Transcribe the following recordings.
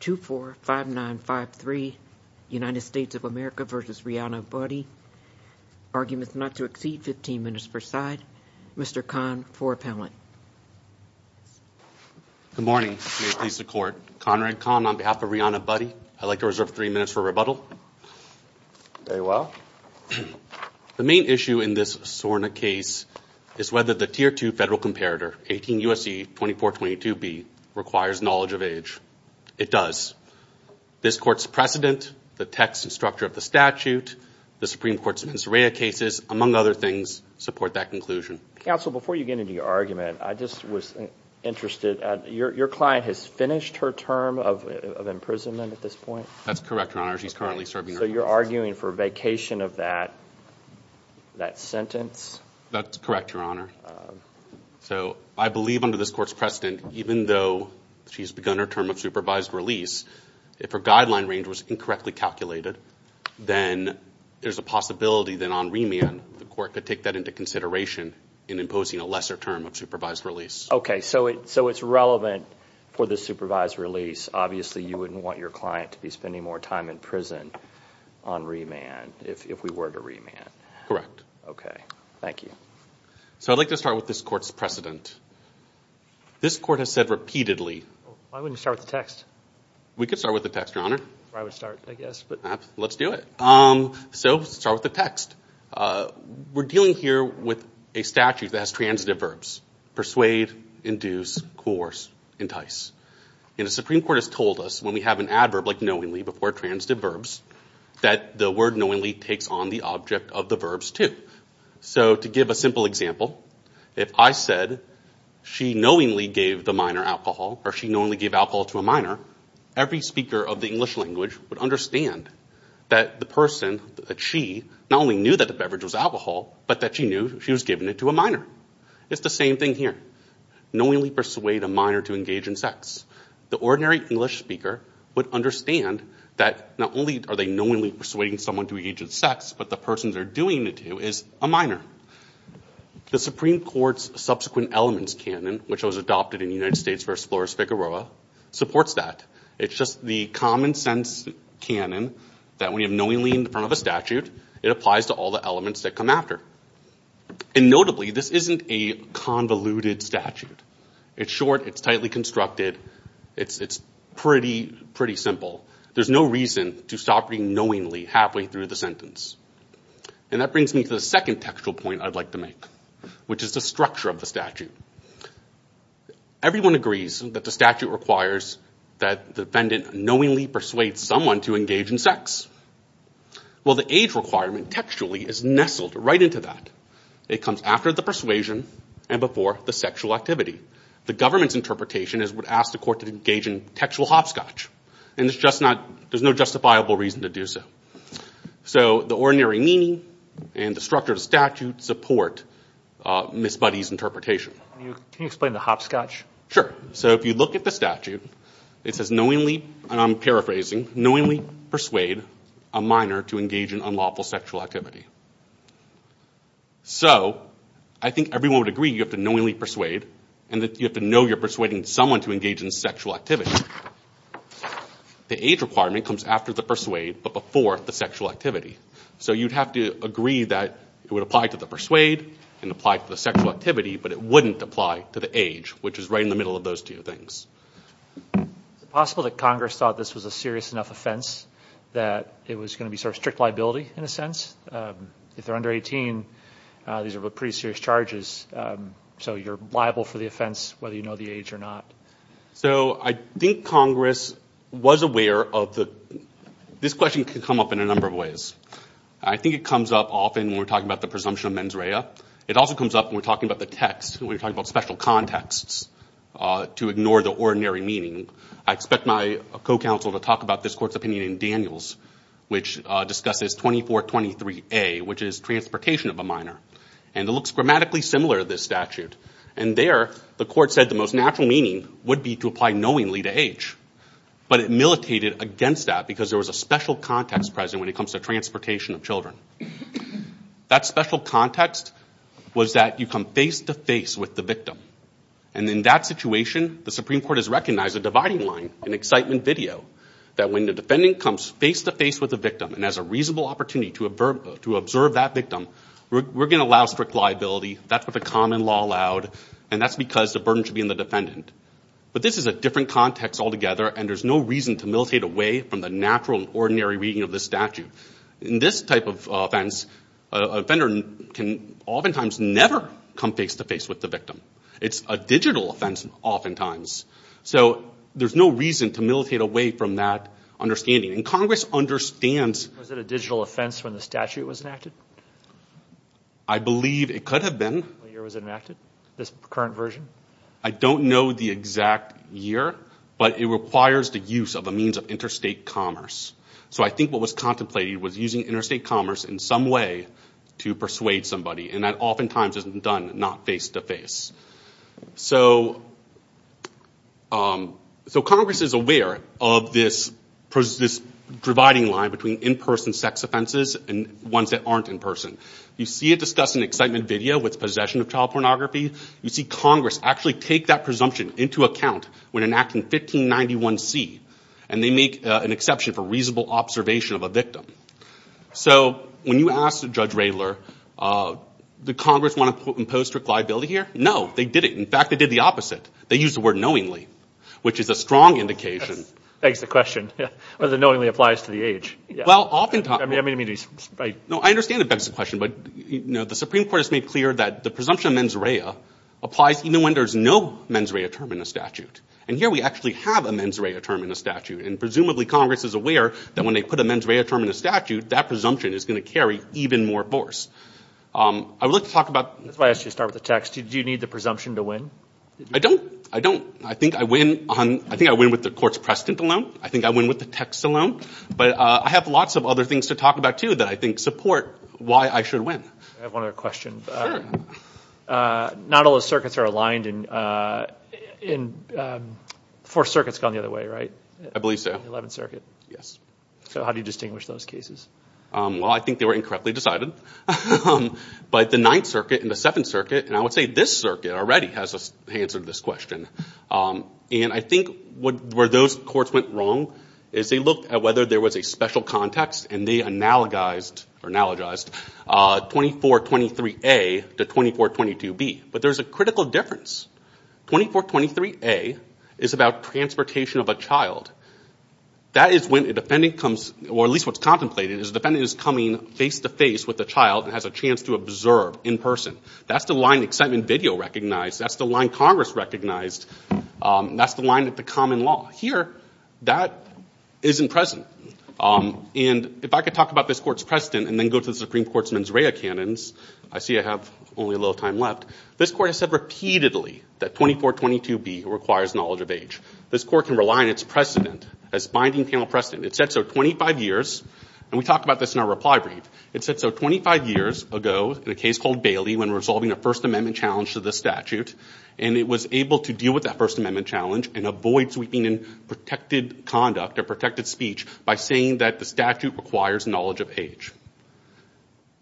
245953 United States of America versus Rihanna Buddi. Arguments not to exceed 15 minutes per side. Mr. Kahn for appellant. Good morning. May it please the court. Conrad Kahn on behalf of Rihanna Buddi. I'd like to reserve three minutes for rebuttal. Very well. The main issue in this SORNA case is whether the Tier 2 Federal Comparator 18 U.S.C. 2422B requires knowledge of the language. It does. This court's precedent, the text and structure of the statute, the Supreme Court's Mens Rea cases, among other things, support that conclusion. Counsel, before you get into your argument, I just was interested. Your client has finished her term of imprisonment at this point? That's correct, Your Honor. She's currently serving her term. So you're arguing for vacation of that sentence? That's correct, Your Honor. So I believe under this court's precedent, even though she's begun her term of supervised release, if her guideline range was incorrectly calculated, then there's a possibility that on remand the court could take that into consideration in imposing a lesser term of supervised release. Okay, so it's relevant for the supervised release. Obviously, you wouldn't want your client to be spending more time in prison on remand if we were to remand. Correct. Okay, thank you. So I'd like to start with this court's precedent. This court has said repeatedly... Why wouldn't you start with the text? We could start with the text, Your Honor. I would start, I guess. Let's do it. So, let's start with the text. We're dealing here with a statute that has transitive verbs. Persuade, induce, coerce, entice. And the Supreme Court has told us, when we have an adverb like knowingly before transitive verbs, that the word knowingly takes on the object of the verbs, too. So to give a simple example, if I said, she knowingly gave the minor alcohol, or she knowingly gave alcohol to a minor, every speaker of the English language would understand that the person, that she, not only knew that the beverage was alcohol, but that she knew she was giving it to a minor. It's the same thing here. Knowingly persuade a minor to engage in sex. The ordinary English speaker would understand that not only are they knowingly persuading someone to engage in sex, but the person they're doing it to is a minor. The Supreme Court's subsequent elements canon, which was adopted in United States v. Flores-Figueroa, supports that. It's just the common sense canon that when you have knowingly in front of a statute, it applies to all the elements that come after. And notably, this isn't a convoluted statute. It's short, it's tightly constructed, it's pretty, pretty simple. There's no reason to stop knowingly halfway through the sentence. And that brings me to the second textual point I'd like to make, which is the structure of the statute. Everyone agrees that the statute requires that the defendant knowingly persuade someone to engage in sex. Well, the age requirement textually is nestled right into that. It comes after the persuasion and before the sexual activity. The government's interpretation is we'd ask the court to engage in textual hopscotch. And it's just not, there's no justifiable reason to do so. So the ordinary meaning and the structure of the statute support Ms. Buddy's interpretation. Can you explain the hopscotch? Sure. So if you look at the statute, it says knowingly, and I'm paraphrasing, knowingly persuade a minor to engage in unlawful sexual activity. So I think everyone would agree you have to knowingly persuade and that you have to know you're persuading someone to engage in sexual activity. The age requirement comes after the persuade, but before the sexual activity. So you'd have to agree that it would apply to the persuade and apply to the sexual activity, but it wouldn't apply to the age, which is right in the middle of those two things. Is it possible that Congress thought this was a serious enough offense that it was going to be sort of strict liability in a sense? If they're under 18, these are pretty serious charges. So you're liable for the offense, whether you know the age or not. So I think Congress was aware of the, this question could come up in a number of ways. I think it comes up often when we're talking about the presumption of mens rea. It also comes up when we're talking about the text, when we're talking about special contexts to ignore the ordinary meaning. I expect my co-counsel to talk about this court's opinion in Daniels, which discusses 2423A, which is transportation of a minor. And it looks grammatically similar to this statute. And there, the court said the most natural meaning would be to apply knowingly to age, but it militated against that because there was a special context present when it comes to transportation of children. That special context was that you come face to face with the victim. And in that situation, the Supreme Court has recognized a dividing line, an excitement video, that when the defendant comes face to face with the victim and has a reasonable opportunity to observe that victim, we're going to allow strict liability. That's what the common law allowed, and that's because the burden should be on the defendant. But this is a different context altogether, and there's no reason to militate away from the natural and ordinary reading of the statute. In this type of offense, a offender can oftentimes never come face to face with the victim. It's a digital offense, oftentimes. So there's no reason to militate away from that understanding. And Congress understands... Was it a digital offense when the statute was enacted? I believe it could have been. What year was it enacted, this current version? I don't know the exact year, but it requires the use of a means of interstate commerce. So I think what was contemplated was using interstate commerce in some way to persuade somebody, and that oftentimes isn't done, not face to face. So Congress is aware of this dividing line between in-person sex offenses and ones that aren't in person. You see it discuss an excitement video with possession of child pornography. You see Congress actually take that presumption into account when enacting 1591C, and they make an exception for reasonable observation of a victim. So when you asked Judge Radler, did Congress want to impose strict liability here? No, they didn't. In fact, they did the opposite. They used the word knowingly, which is a strong indication. Thanks for the question. Whether knowingly applies to the age. Well, oftentimes... I mean, I mean... No, I understand if that's the question, but, you know, the Supreme Court has made clear that the presumption of mens rea applies even when there's no mens rea term in the statute. And here we actually have a mens rea term in the statute, and presumably Congress is aware that when they put a mens rea term in the statute, that presumption is going to carry even more force. I would like to talk about... That's why I asked you to start with the text. Do you need the presumption to win? I don't. I don't. I think I win on... I think I win with the court's precedent alone. I think I win with the text alone. But I have lots of other things to talk about, too, that I think support why I should win. I have one other question. Not all the circuits are aligned in... The Fourth Circuit's gone the other way, right? I believe so. The Eleventh Circuit? Yes. So how do you distinguish those cases? Well, I think they were incorrectly decided. But the Ninth Circuit and the Seventh Circuit, and I would say this circuit already has an answer to this question. And I think where those courts went wrong is they looked at whether there was a special context, and they analogized 2423A to 2422B. But there's a critical difference. 2423A is about transportation of a child. That is when a defendant comes... Or at least what's contemplated is a defendant is coming face-to-face with a child and has a chance to observe in person. That's the line excitement video recognized. That's the line Congress recognized. That's the line that the common law... Here, that isn't present. And if I could talk about this court's precedent and then go to the Supreme Court's mens rea canons, I see I have only a little time left. This court has said repeatedly that 2422B requires knowledge of age. This court can rely on its precedent, its binding panel precedent. It said so 25 years... And we talk about this in our reply brief. It said so 25 years ago in a case called Bailey when resolving a First Amendment challenge to the statute. And it was able to deal with that First Amendment challenge and avoid sweeping in protected conduct or protected speech by saying that the statute requires knowledge of age.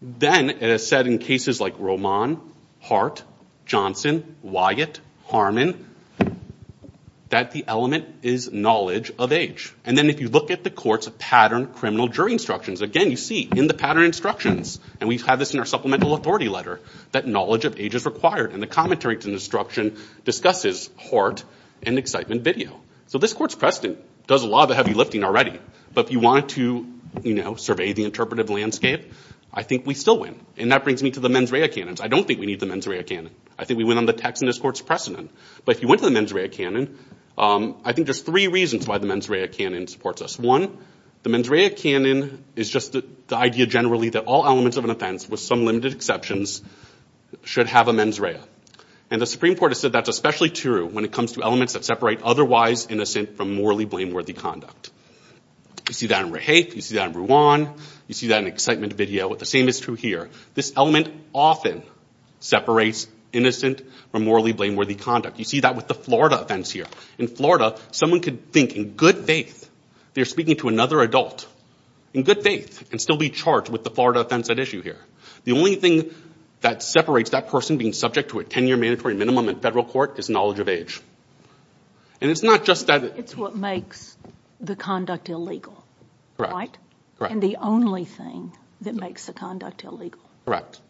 Then it has said in cases like Roman, Hart, Johnson, Wyatt, Harmon, that the element is knowledge of age. And then if you look at the courts of pattern criminal jury instructions, again you see in the pattern instructions, and we have this in our supplemental authority letter, that knowledge of age is required. And the commentary to the instruction discusses Hart and excitement video. So this court's precedent does a lot of the heavy lifting already. But if you want to survey the interpretive landscape, I think we still win. And that brings me to the mens rea canons. I don't think we need the mens rea canon. I think we win on the text and this court's precedent. But if you went to the mens rea canon, I think there's three reasons why the mens rea canon supports us. One, the mens rea canon is just the idea generally that all elements of an offense, with some limited exceptions, should have a mens rea. And the Supreme Court has said that's especially true when it comes to elements that separate otherwise innocent from morally blameworthy conduct. You see that in rehafe, you see that in Ruan, you see that in excitement video. The same is true here. This element often separates innocent from morally blameworthy conduct. You see that with the Florida offense here. In Florida, someone could think in good faith they're speaking to another adult, in good faith, and still be charged with the Florida offense at issue here. The only thing that separates that person being subject to a 10-year mandatory minimum in federal court is knowledge of age. And it's not just that It's what makes the conduct illegal, right? And the only thing that makes the conduct illegal. Correct.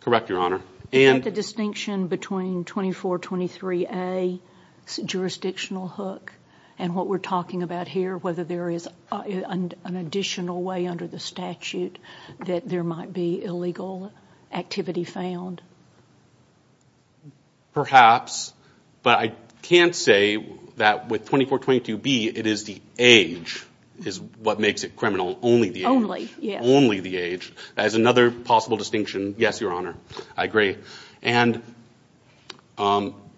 Correct, Your Honor. Is that the distinction between 2423A, jurisdictional hook, and what we're talking about here, whether there is an additional way under the statute that there might be illegal activity found? Perhaps. But I can't say that with 2422B, it is the age is what makes it criminal. Only the age. Only the age. That is another possible distinction. Yes, Your Honor. I agree. And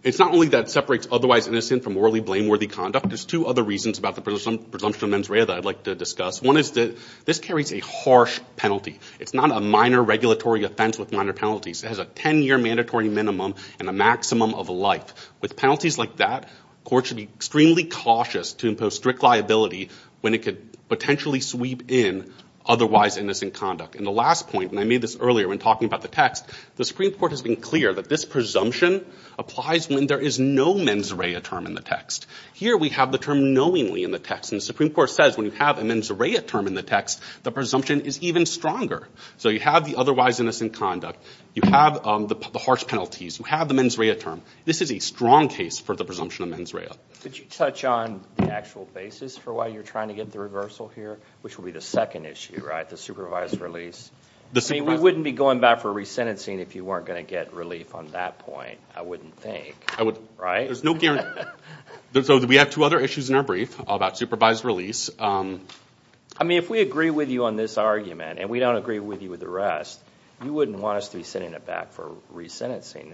it's not only that separates otherwise innocent from morally blameworthy conduct. There's two other reasons about the presumption of mens rea that I'd like to discuss. One is that this carries a harsh penalty. It's not a minor regulatory offense with minor penalties. It has a 10-year mandatory minimum and a maximum of life. With penalties like that, courts should be extremely cautious to impose strict liability when it could potentially sweep in otherwise innocent conduct. And the last point, and I made this earlier when talking about the text, the Supreme Court has been clear that this presumption applies when there is no mens rea term in the text. Here we have the term knowingly in the text. And the Supreme Court says when you have a mens rea term in the text, the presumption is even stronger. So you have the otherwise innocent conduct. You have the harsh penalties. You have the mens rea term. This is a strong case for the presumption of mens rea. Could you touch on the actual basis for why you're trying to get the reversal here, which would be the second issue, right? The supervised release. I mean, we wouldn't be going back for resentencing if you weren't going to get relief on that point, I wouldn't think. Right? There's no guarantee. So we have two other issues in our brief about supervised release. I mean, if we agree with you on this argument and we don't agree with you with the rest, you wouldn't want us to be sending it back for resentencing.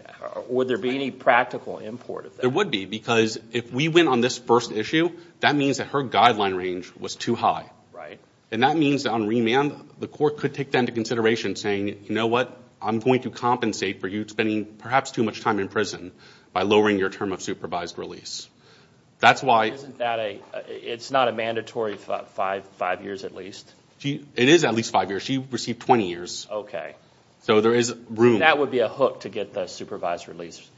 Would there be any practical import of that? There would be, because if we went on this first issue, that means that her guideline range was too high. And that means on remand, the court could take that into consideration saying, you know what, I'm going to compensate for you spending perhaps too much time in prison by lowering your term of supervised release. That's why... It's not a mandatory five years at least? It is at least five years. She received 20 years. Okay. So there is room... That would be a hook to get the supervised release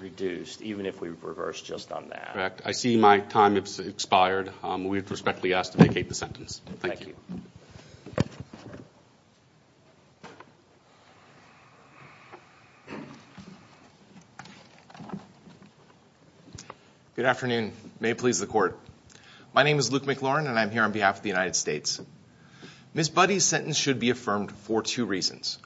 reduced, even if we reverse just on that. Correct. I see my time has expired. We respectfully ask to vacate the sentence. Thank you. Thank you. Good afternoon. May it please the court. My name is Luke McLaurin and I'm here on behalf of the United States. Ms. Budde's sentence should be affirmed for two reasons.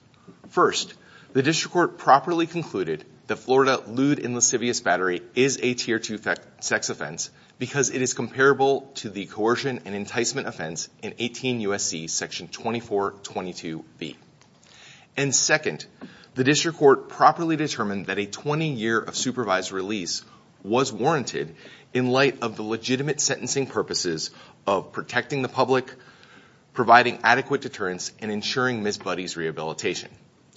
First, the district court properly concluded that Florida lewd and lascivious battery is a tier two sex offense because it is comparable to the coercion and enticement offense in 18 year of supervised release was warranted in light of the legitimate sentencing purposes of protecting the public, providing adequate deterrence and ensuring Ms. Budde's rehabilitation.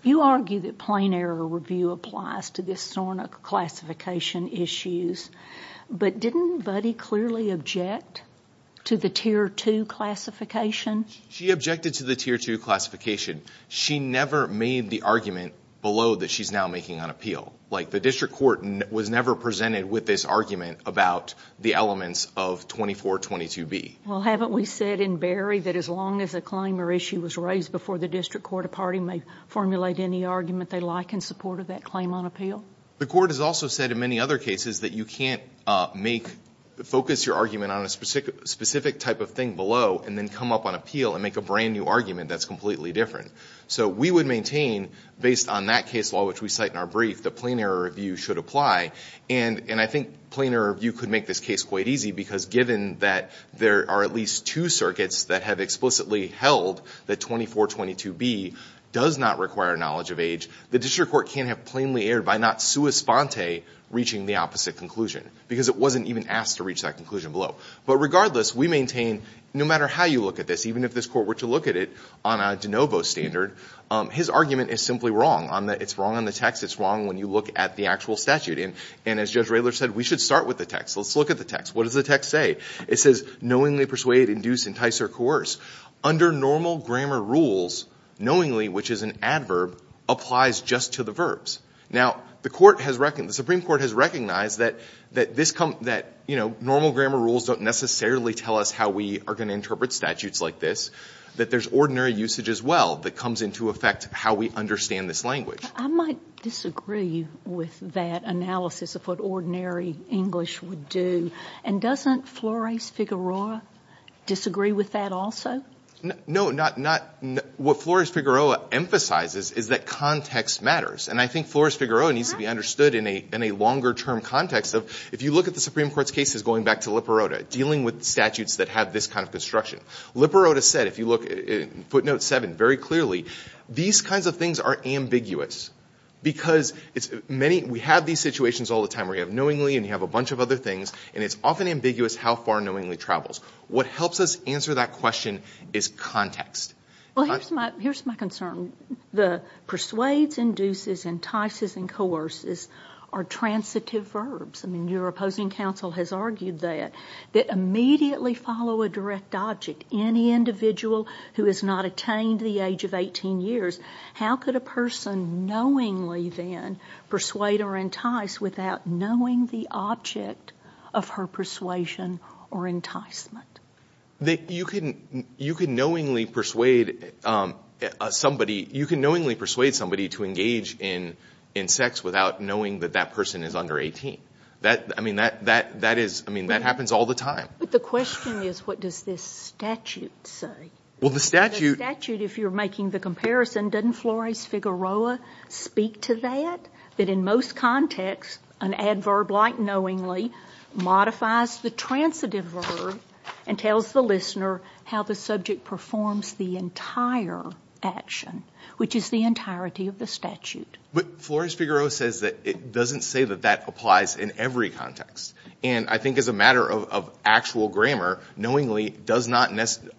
You argue that plain error review applies to this sort of classification issues, but didn't Budde clearly object to the tier two classification? She objected to the tier two classification. She never made the argument below that she's now making on appeal. Like the district court was never presented with this argument about the elements of 2422 B. Well, haven't we said in Barry that as long as a claim or issue was raised before the district court, a party may formulate any argument they like in support of that claim on appeal. The court has also said in many other cases that you can't make, focus your argument on a specific type of thing below and then come up on appeal and make a brand new argument that's completely different. So we would maintain, based on that case law which we cite in our brief, that plain error review should apply. And I think plain error review could make this case quite easy because given that there are at least two circuits that have explicitly held that 2422 B does not require knowledge of age, the district court can't have plainly erred by not sua sponte reaching the opposite conclusion because it wasn't even asked to reach that conclusion below. But regardless, we maintain no matter how you look at this, even if this court were to look at it on a de novo standard, his argument is simply wrong. It's wrong on the text. It's wrong when you look at the actual statute. And as Judge Raylor said, we should start with the text. Let's look at the text. What does the text say? It says, knowingly persuade, induce, entice, or coerce. Under normal grammar rules, knowingly, which is an adverb, applies just to the verbs. Now the Supreme Court has recognized that normal grammar rules don't necessarily tell us how we are going to interpret statutes like this, that there's ordinary usage as well that comes into effect how we understand this language. I might disagree with that analysis of what ordinary English would do. And doesn't Flores-Figueroa disagree with that also? No, not — what Flores-Figueroa emphasizes is that context matters. And I think Flores-Figueroa needs to be understood in a longer-term context of if you look at the Supreme Court's case is going back to Liperota, dealing with statutes that have this kind of construction. Liperota said, if you look at footnote 7 very clearly, these kinds of things are ambiguous because we have these situations all the time where you have knowingly and you have a bunch of other things, and it's often ambiguous how far knowingly travels. What helps us answer that question is context. Well, here's my concern. The persuade, induce, entice, and coerce are transitive verbs. I mean, your opposing counsel has argued that. That immediately follow a direct object. Any individual who has not attained the age of 18 years, how could a person knowingly then persuade or entice without knowing the object of her persuasion or enticement? You can knowingly persuade somebody to engage in sex without knowing that that person is under 18. I mean, that happens all the time. But the question is, what does this statute say? Well, the statute— The statute, if you're making the comparison, doesn't Flores-Figueroa speak to that? That in most contexts, an adverb like knowingly modifies the transitive verb and tells the listener how the subject performs the entire action, which is the entirety of the statute. But Flores-Figueroa says that it doesn't say that that applies in every context. And I think as a matter of actual grammar, knowingly does not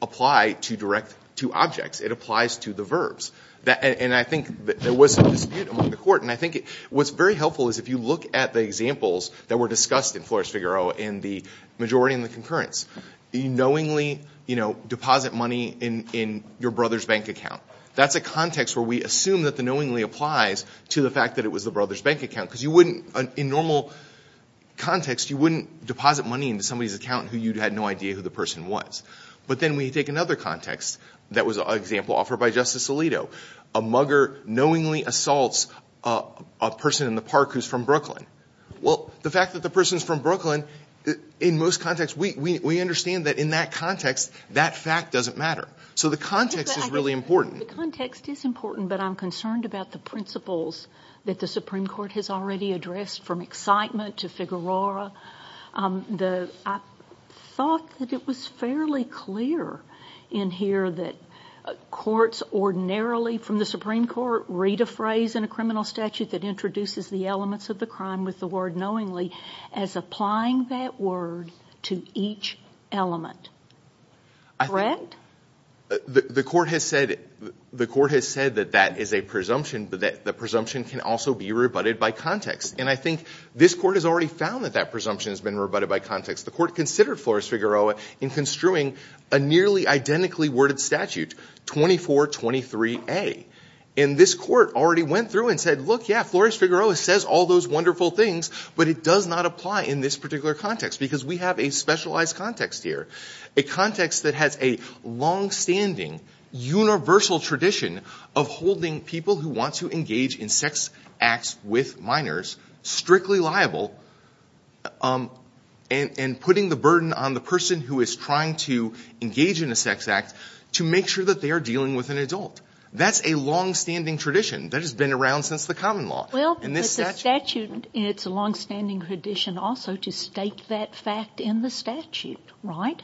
apply to direct to objects. It applies to the verbs. And I think there was some dispute among the court, and I think what's very helpful is if you look at the examples that were discussed in Flores-Figueroa in the majority and the concurrence. You knowingly deposit money in your brother's bank account. That's a context where we assume that the knowingly applies to the fact that it was the brother's bank account. Because you wouldn't, in normal context, you wouldn't deposit money into somebody's account who you had no idea who the person was. But then we take another context that was an example offered by Justice Alito. A mugger knowingly assaults a person in the park who's from Brooklyn. Well, the fact that the person's from Brooklyn, in most contexts, we understand that in that context, that fact doesn't matter. So the context is really important. The context is important, but I'm concerned about the principles that the Supreme Court has already addressed from excitement to Figueroa. I thought that it was fairly clear in here that courts ordinarily from the Supreme Court read a phrase in a criminal statute that introduces the elements of the crime with the word knowingly as applying that word to each element. Brent? The court has said that that is a presumption, but the presumption can also be rebutted by context. And I think this court has already found that that presumption has been rebutted by context. The court considered Flores-Figueroa in construing a nearly identically worded statute, 2423A. And this court already went through and said, look, yeah, Flores-Figueroa says all those wonderful things, but it does not apply in this particular context because we have a specialized context here. A context that has a longstanding universal tradition of holding people who want to engage in sex acts with minors strictly liable and putting the burden on the person who is trying to engage in a sex act to make sure that they are dealing with an adult. That's a longstanding tradition that has been around since the common law. Well, but the statute, it's a longstanding tradition also to state that fact in the statute, right?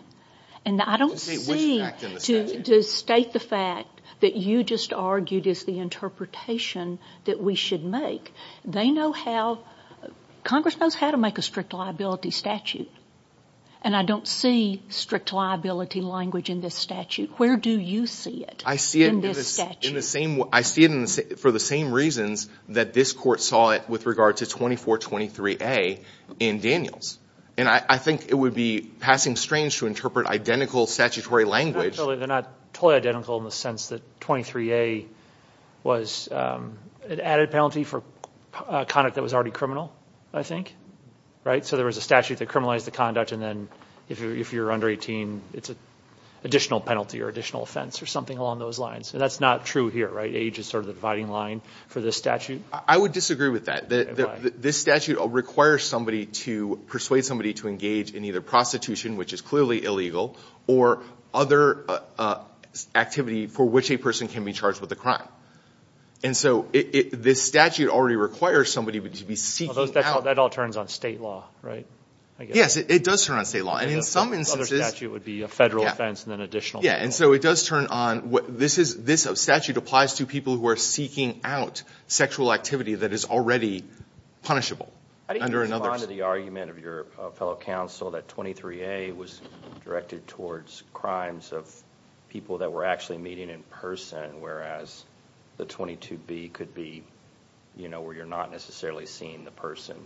And I don't see to state the fact that you just argued is the interpretation that we should make. They know how, Congress knows how to make a strict liability statute. And I don't see strict liability language in this statute. Where do you see it in this statute? I see it for the same reasons that this court saw it with regard to 2423A in Daniels. And I think it would be passing strange to interpret identical statutory language. They're not totally identical in the sense that 23A was an added penalty for conduct that was already criminal, I think, right? So there was a statute that criminalized the conduct and then if you're under 18, it's an additional penalty or additional offense or something along those lines. And that's not true here, right? Age is sort of the dividing line for this statute. I would disagree with that. This statute requires somebody to persuade somebody to engage in either prostitution, which is clearly illegal, or other activity for which a person can be charged with a crime. And so this statute already requires somebody to be seeking out. That all turns on state law, right? Yes, it does turn on state law. And in some instances. The other statute would be a federal offense and then additional. Yeah, and so it does turn on. This statute applies to people who are seeking out sexual activity that is already punishable. I didn't respond to the argument of your fellow counsel that 23A was directed towards crimes of people that were actually meeting in person, whereas the 22B could be, you know, where you're not necessarily seeing the person.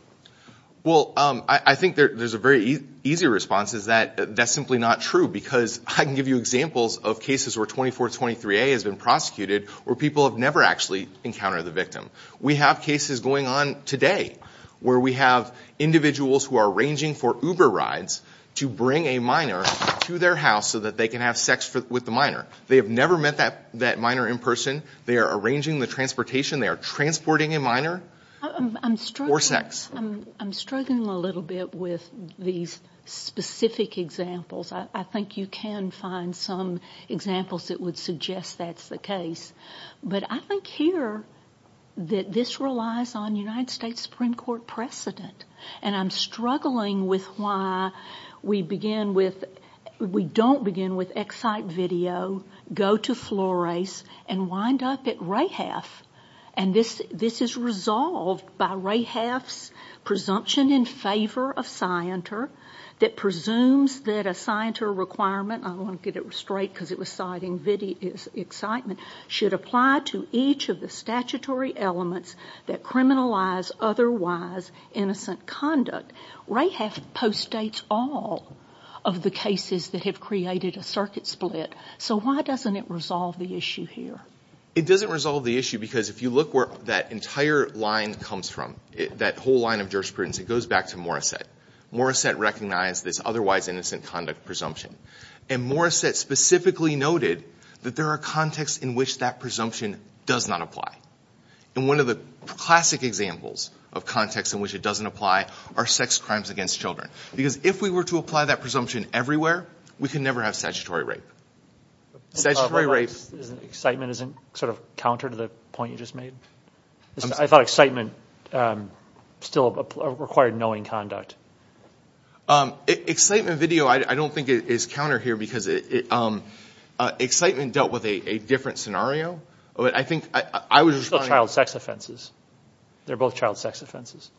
Well, I think there's a very easy response is that that's simply not true because I can give you examples of cases where 2423A has been prosecuted where people have never actually encountered the victim. We have cases going on today where we have individuals who are arranging for Uber rides to bring a minor to their house so that they can have sex with the minor. They have never met that minor in person. They are arranging the transportation. They are transporting a minor for sex. I'm struggling a little bit with these specific examples. I think you can find some examples that would suggest that's the case. But I think here that this relies on United States Supreme Court precedent, and I'm struggling with why we don't begin with Ex Cite video, go to Flores, and wind up at Rahaf, and this is resolved by Rahaf's presumption in favor of scienter that presumes that a scienter requirement, I don't want to get it straight because it was citing video excitement, should apply to each of the statutory elements that criminalize otherwise innocent conduct. Rahaf postdates all of the cases that have created a circuit split. So why doesn't it resolve the issue here? It doesn't resolve the issue because if you look where that entire line comes from, that whole line of jurisprudence, it goes back to Morrissette. Morrissette recognized this otherwise innocent conduct presumption. And Morrissette specifically noted that there are contexts in which that presumption does not apply. And one of the classic examples of contexts in which it doesn't apply are sex crimes against children. Because if we were to apply that presumption everywhere, we could never have statutory rape. Statutory rape. Excitement isn't sort of counter to the point you just made? I thought excitement still required knowing conduct. Excitement video I don't think is counter here because excitement dealt with a different scenario. But I think I was responding to- It's still child sex offenses. They're both child sex offenses.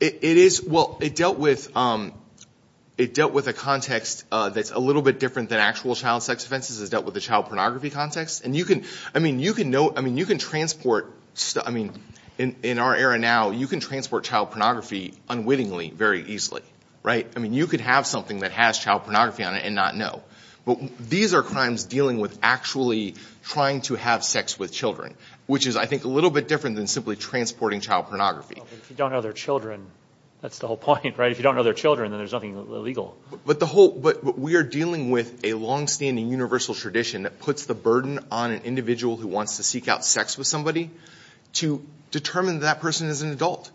It is. Well, it dealt with a context that's a little bit different than actual child sex offenses. It dealt with the child pornography context. I mean, you can transport- I mean, in our era now, you can transport child pornography unwittingly very easily, right? I mean, you could have something that has child pornography on it and not know. But these are crimes dealing with actually trying to have sex with children, which is, I think, a little bit different than simply transporting child pornography. If you don't know their children, that's the whole point, right? If you don't know their children, then there's nothing illegal. But we are dealing with a longstanding universal tradition that puts the burden on an individual who wants to seek out sex with somebody to determine that that person is an adult.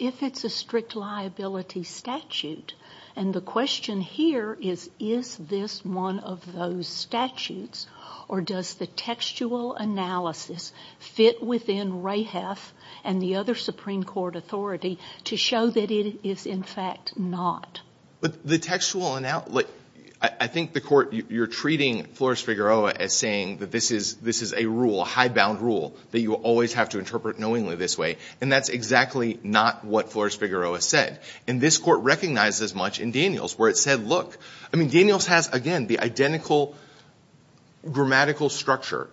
If it's a strict liability statute, and the question here is, is this one of those statutes or does the textual analysis fit within and the other Supreme Court authority to show that it is, in fact, not? But the textual analysis- I think the Court, you're treating Flores-Figueroa as saying that this is a rule, a high-bound rule that you always have to interpret knowingly this way, and that's exactly not what Flores-Figueroa said. And this Court recognized as much in Daniels where it said, look- I mean, Daniels has, again, the identical grammatical structure,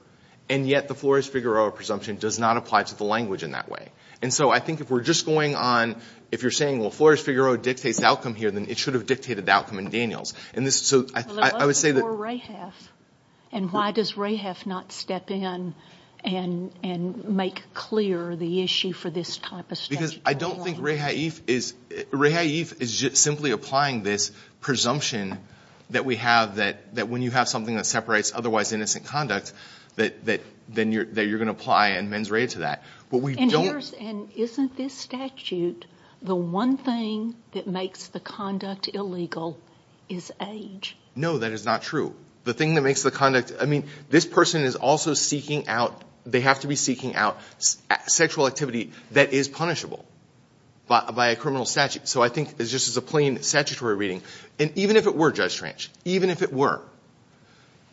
and yet the Flores-Figueroa presumption does not apply to the language in that way. And so I think if we're just going on- if you're saying, well, Flores-Figueroa dictates the outcome here, then it should have dictated the outcome in Daniels. And this- so I would say that- But what about for Rahaf? And why does Rahaf not step in and make clear the issue for this type of statute? Because I don't think Rahaif is- Rahaif is simply applying this presumption that we have that when you have something that separates otherwise innocent conduct, that you're going to apply a mens rea to that. But we don't- And isn't this statute the one thing that makes the conduct illegal is age? No, that is not true. The thing that makes the conduct- I mean, this person is also seeking out- they have to be seeking out sexual activity that is punishable by a criminal statute. So I think this is just a plain statutory reading. And even if it were, Judge Tranch, even if it were,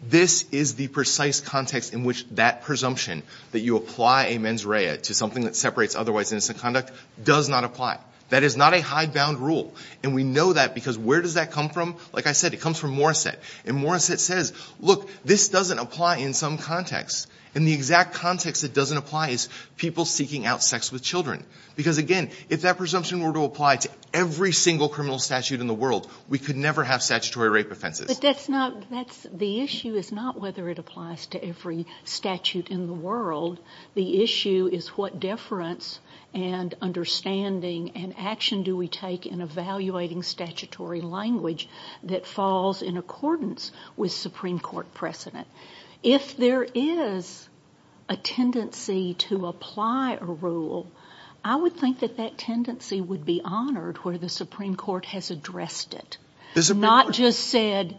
this is the precise context in which that presumption that you apply a mens rea to something that separates otherwise innocent conduct does not apply. That is not a hidebound rule. And we know that because where does that come from? Like I said, it comes from Morissette. And Morissette says, look, this doesn't apply in some context. And the exact context it doesn't apply is people seeking out sex with children. Because, again, if that presumption were to apply to every single criminal statute in the world, we could never have statutory rape offenses. But that's not- the issue is not whether it applies to every statute in the world. The issue is what deference and understanding and action do we take in evaluating statutory language that falls in accordance with Supreme Court precedent. If there is a tendency to apply a rule, I would think that that tendency would be honored where the Supreme Court has addressed it. Not just said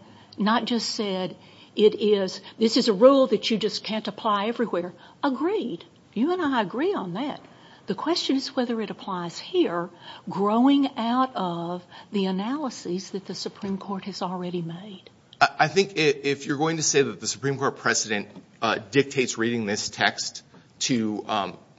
it is- this is a rule that you just can't apply everywhere. Agreed. You and I agree on that. The question is whether it applies here, growing out of the analyses that the Supreme Court has already made. I think if you're going to say that the Supreme Court precedent dictates reading this text to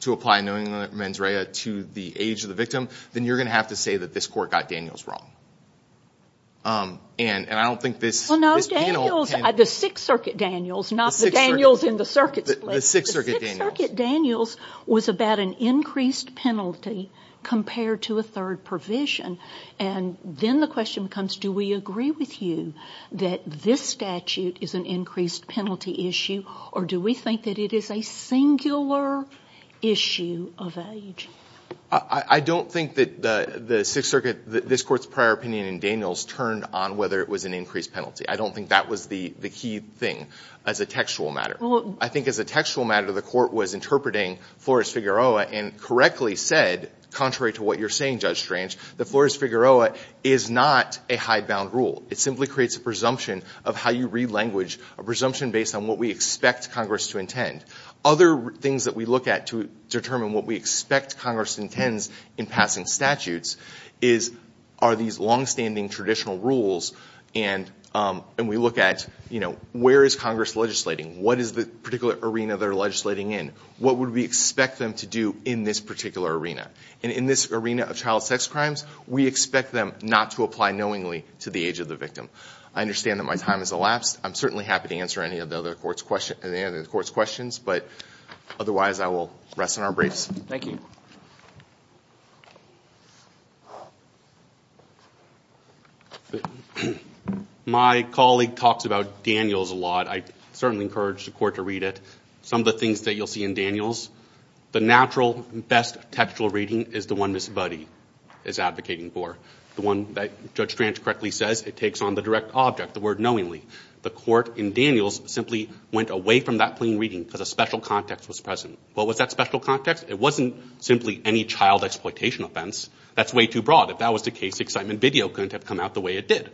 apply knowingly mens rea to the age of the victim, then you're going to have to say that this court got Daniels wrong. And I don't think this- Well, no, Daniels- the Sixth Circuit Daniels, not the Daniels in the circuits. The Sixth Circuit Daniels. The Sixth Circuit Daniels was about an increased penalty compared to a third provision. And then the question becomes, do we agree with you that this statute is an increased penalty issue, or do we think that it is a singular issue of age? I don't think that the Sixth Circuit- this court's prior opinion in Daniels turned on whether it was an increased penalty. I don't think that was the key thing as a textual matter. I think as a textual matter, the court was interpreting Flores-Figueroa and correctly said, contrary to what you're saying, Judge Strange, that Flores-Figueroa is not a high-bound rule. It simply creates a presumption of how you read language, a presumption based on what we expect Congress to intend. Other things that we look at to determine what we expect Congress intends in passing statutes are these longstanding traditional rules. And we look at, you know, where is Congress legislating? What is the particular arena they're legislating in? What would we expect them to do in this particular arena? And in this arena of child sex crimes, we expect them not to apply knowingly to the age of the victim. I understand that my time has elapsed. I'm certainly happy to answer any of the other court's questions, but otherwise I will rest on our braids. Thank you. My colleague talks about Daniels a lot. I certainly encourage the court to read it. Some of the things that you'll see in Daniels, the natural best textual reading is the one Ms. Budde is advocating for, the one that Judge Stranch correctly says it takes on the direct object, the word knowingly. The court in Daniels simply went away from that plain reading because a special context was present. What was that special context? It wasn't simply any child exploitation offense. That's way too broad. If that was the case, excitement video couldn't have come out the way it did.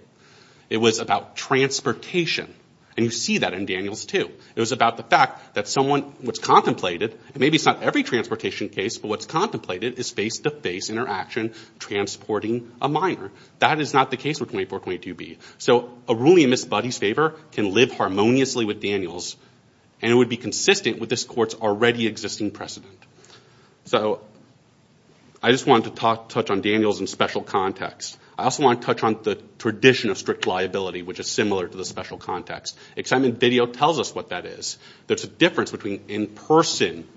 It was about transportation, and you see that in Daniels too. It was about the fact that someone was contemplated, and maybe it's not every transportation case, but what's contemplated is face-to-face interaction transporting a minor. That is not the case with 2422B. So a ruling in Ms. Budde's favor can live harmoniously with Daniels, and it would be consistent with this court's already existing precedent. So I just wanted to touch on Daniels in special context. I also want to touch on the tradition of strict liability, which is similar to the special context. Excitement video tells us what that is. There's a difference between in-person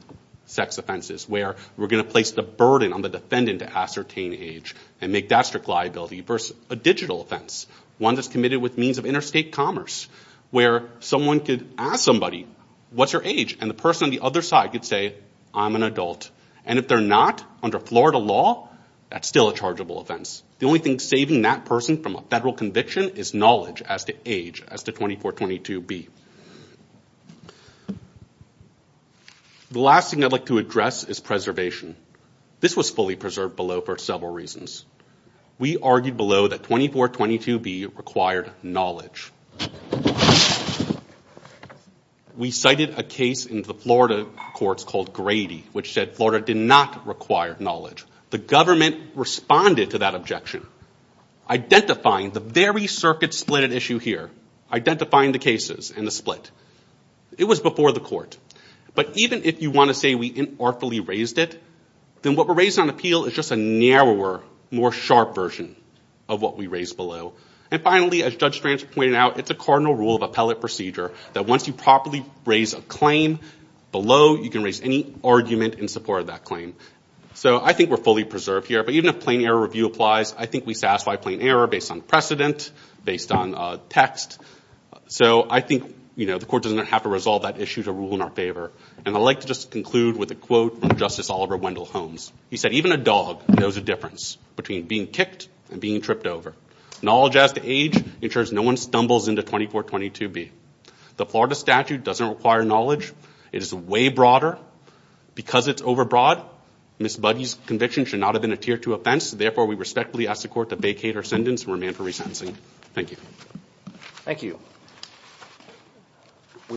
sex offenses, where we're going to place the burden on the defendant to ascertain age and make that strict liability, versus a digital offense, one that's committed with means of interstate commerce, where someone could ask somebody, what's your age? And the person on the other side could say, I'm an adult. And if they're not, under Florida law, that's still a chargeable offense. The only thing saving that person from a federal conviction is knowledge as to age, as to 2422B. The last thing I'd like to address is preservation. This was fully preserved below for several reasons. We argued below that 2422B required knowledge. We cited a case in the Florida courts called Grady, which said Florida did not require knowledge. The government responded to that objection, identifying the very circuit-splitted issue here, identifying the cases and the split. It was before the court. But even if you want to say we inartfully raised it, then what we're raising on appeal is just a narrower, more sharp version of what we raised below. And finally, as Judge Strantz pointed out, it's a cardinal rule of appellate procedure that once you properly raise a claim below, you can raise any argument in support of that claim. So I think we're fully preserved here. But even if plain error review applies, I think we satisfy plain error based on precedent, based on text. So I think the court doesn't have to resolve that issue to rule in our favor. And I'd like to just conclude with a quote from Justice Oliver Wendell Holmes. He said, even a dog knows the difference between being kicked and being tripped over. Knowledge, as to age, ensures no one stumbles into 2422B. The Florida statute doesn't require knowledge. It is way broader. Because it's overbroad, Ms. Budde's conviction should not have been a tier-two offense. Therefore, we respectfully ask the court to vacate our sentence and remand for resentencing. Thank you. Thank you.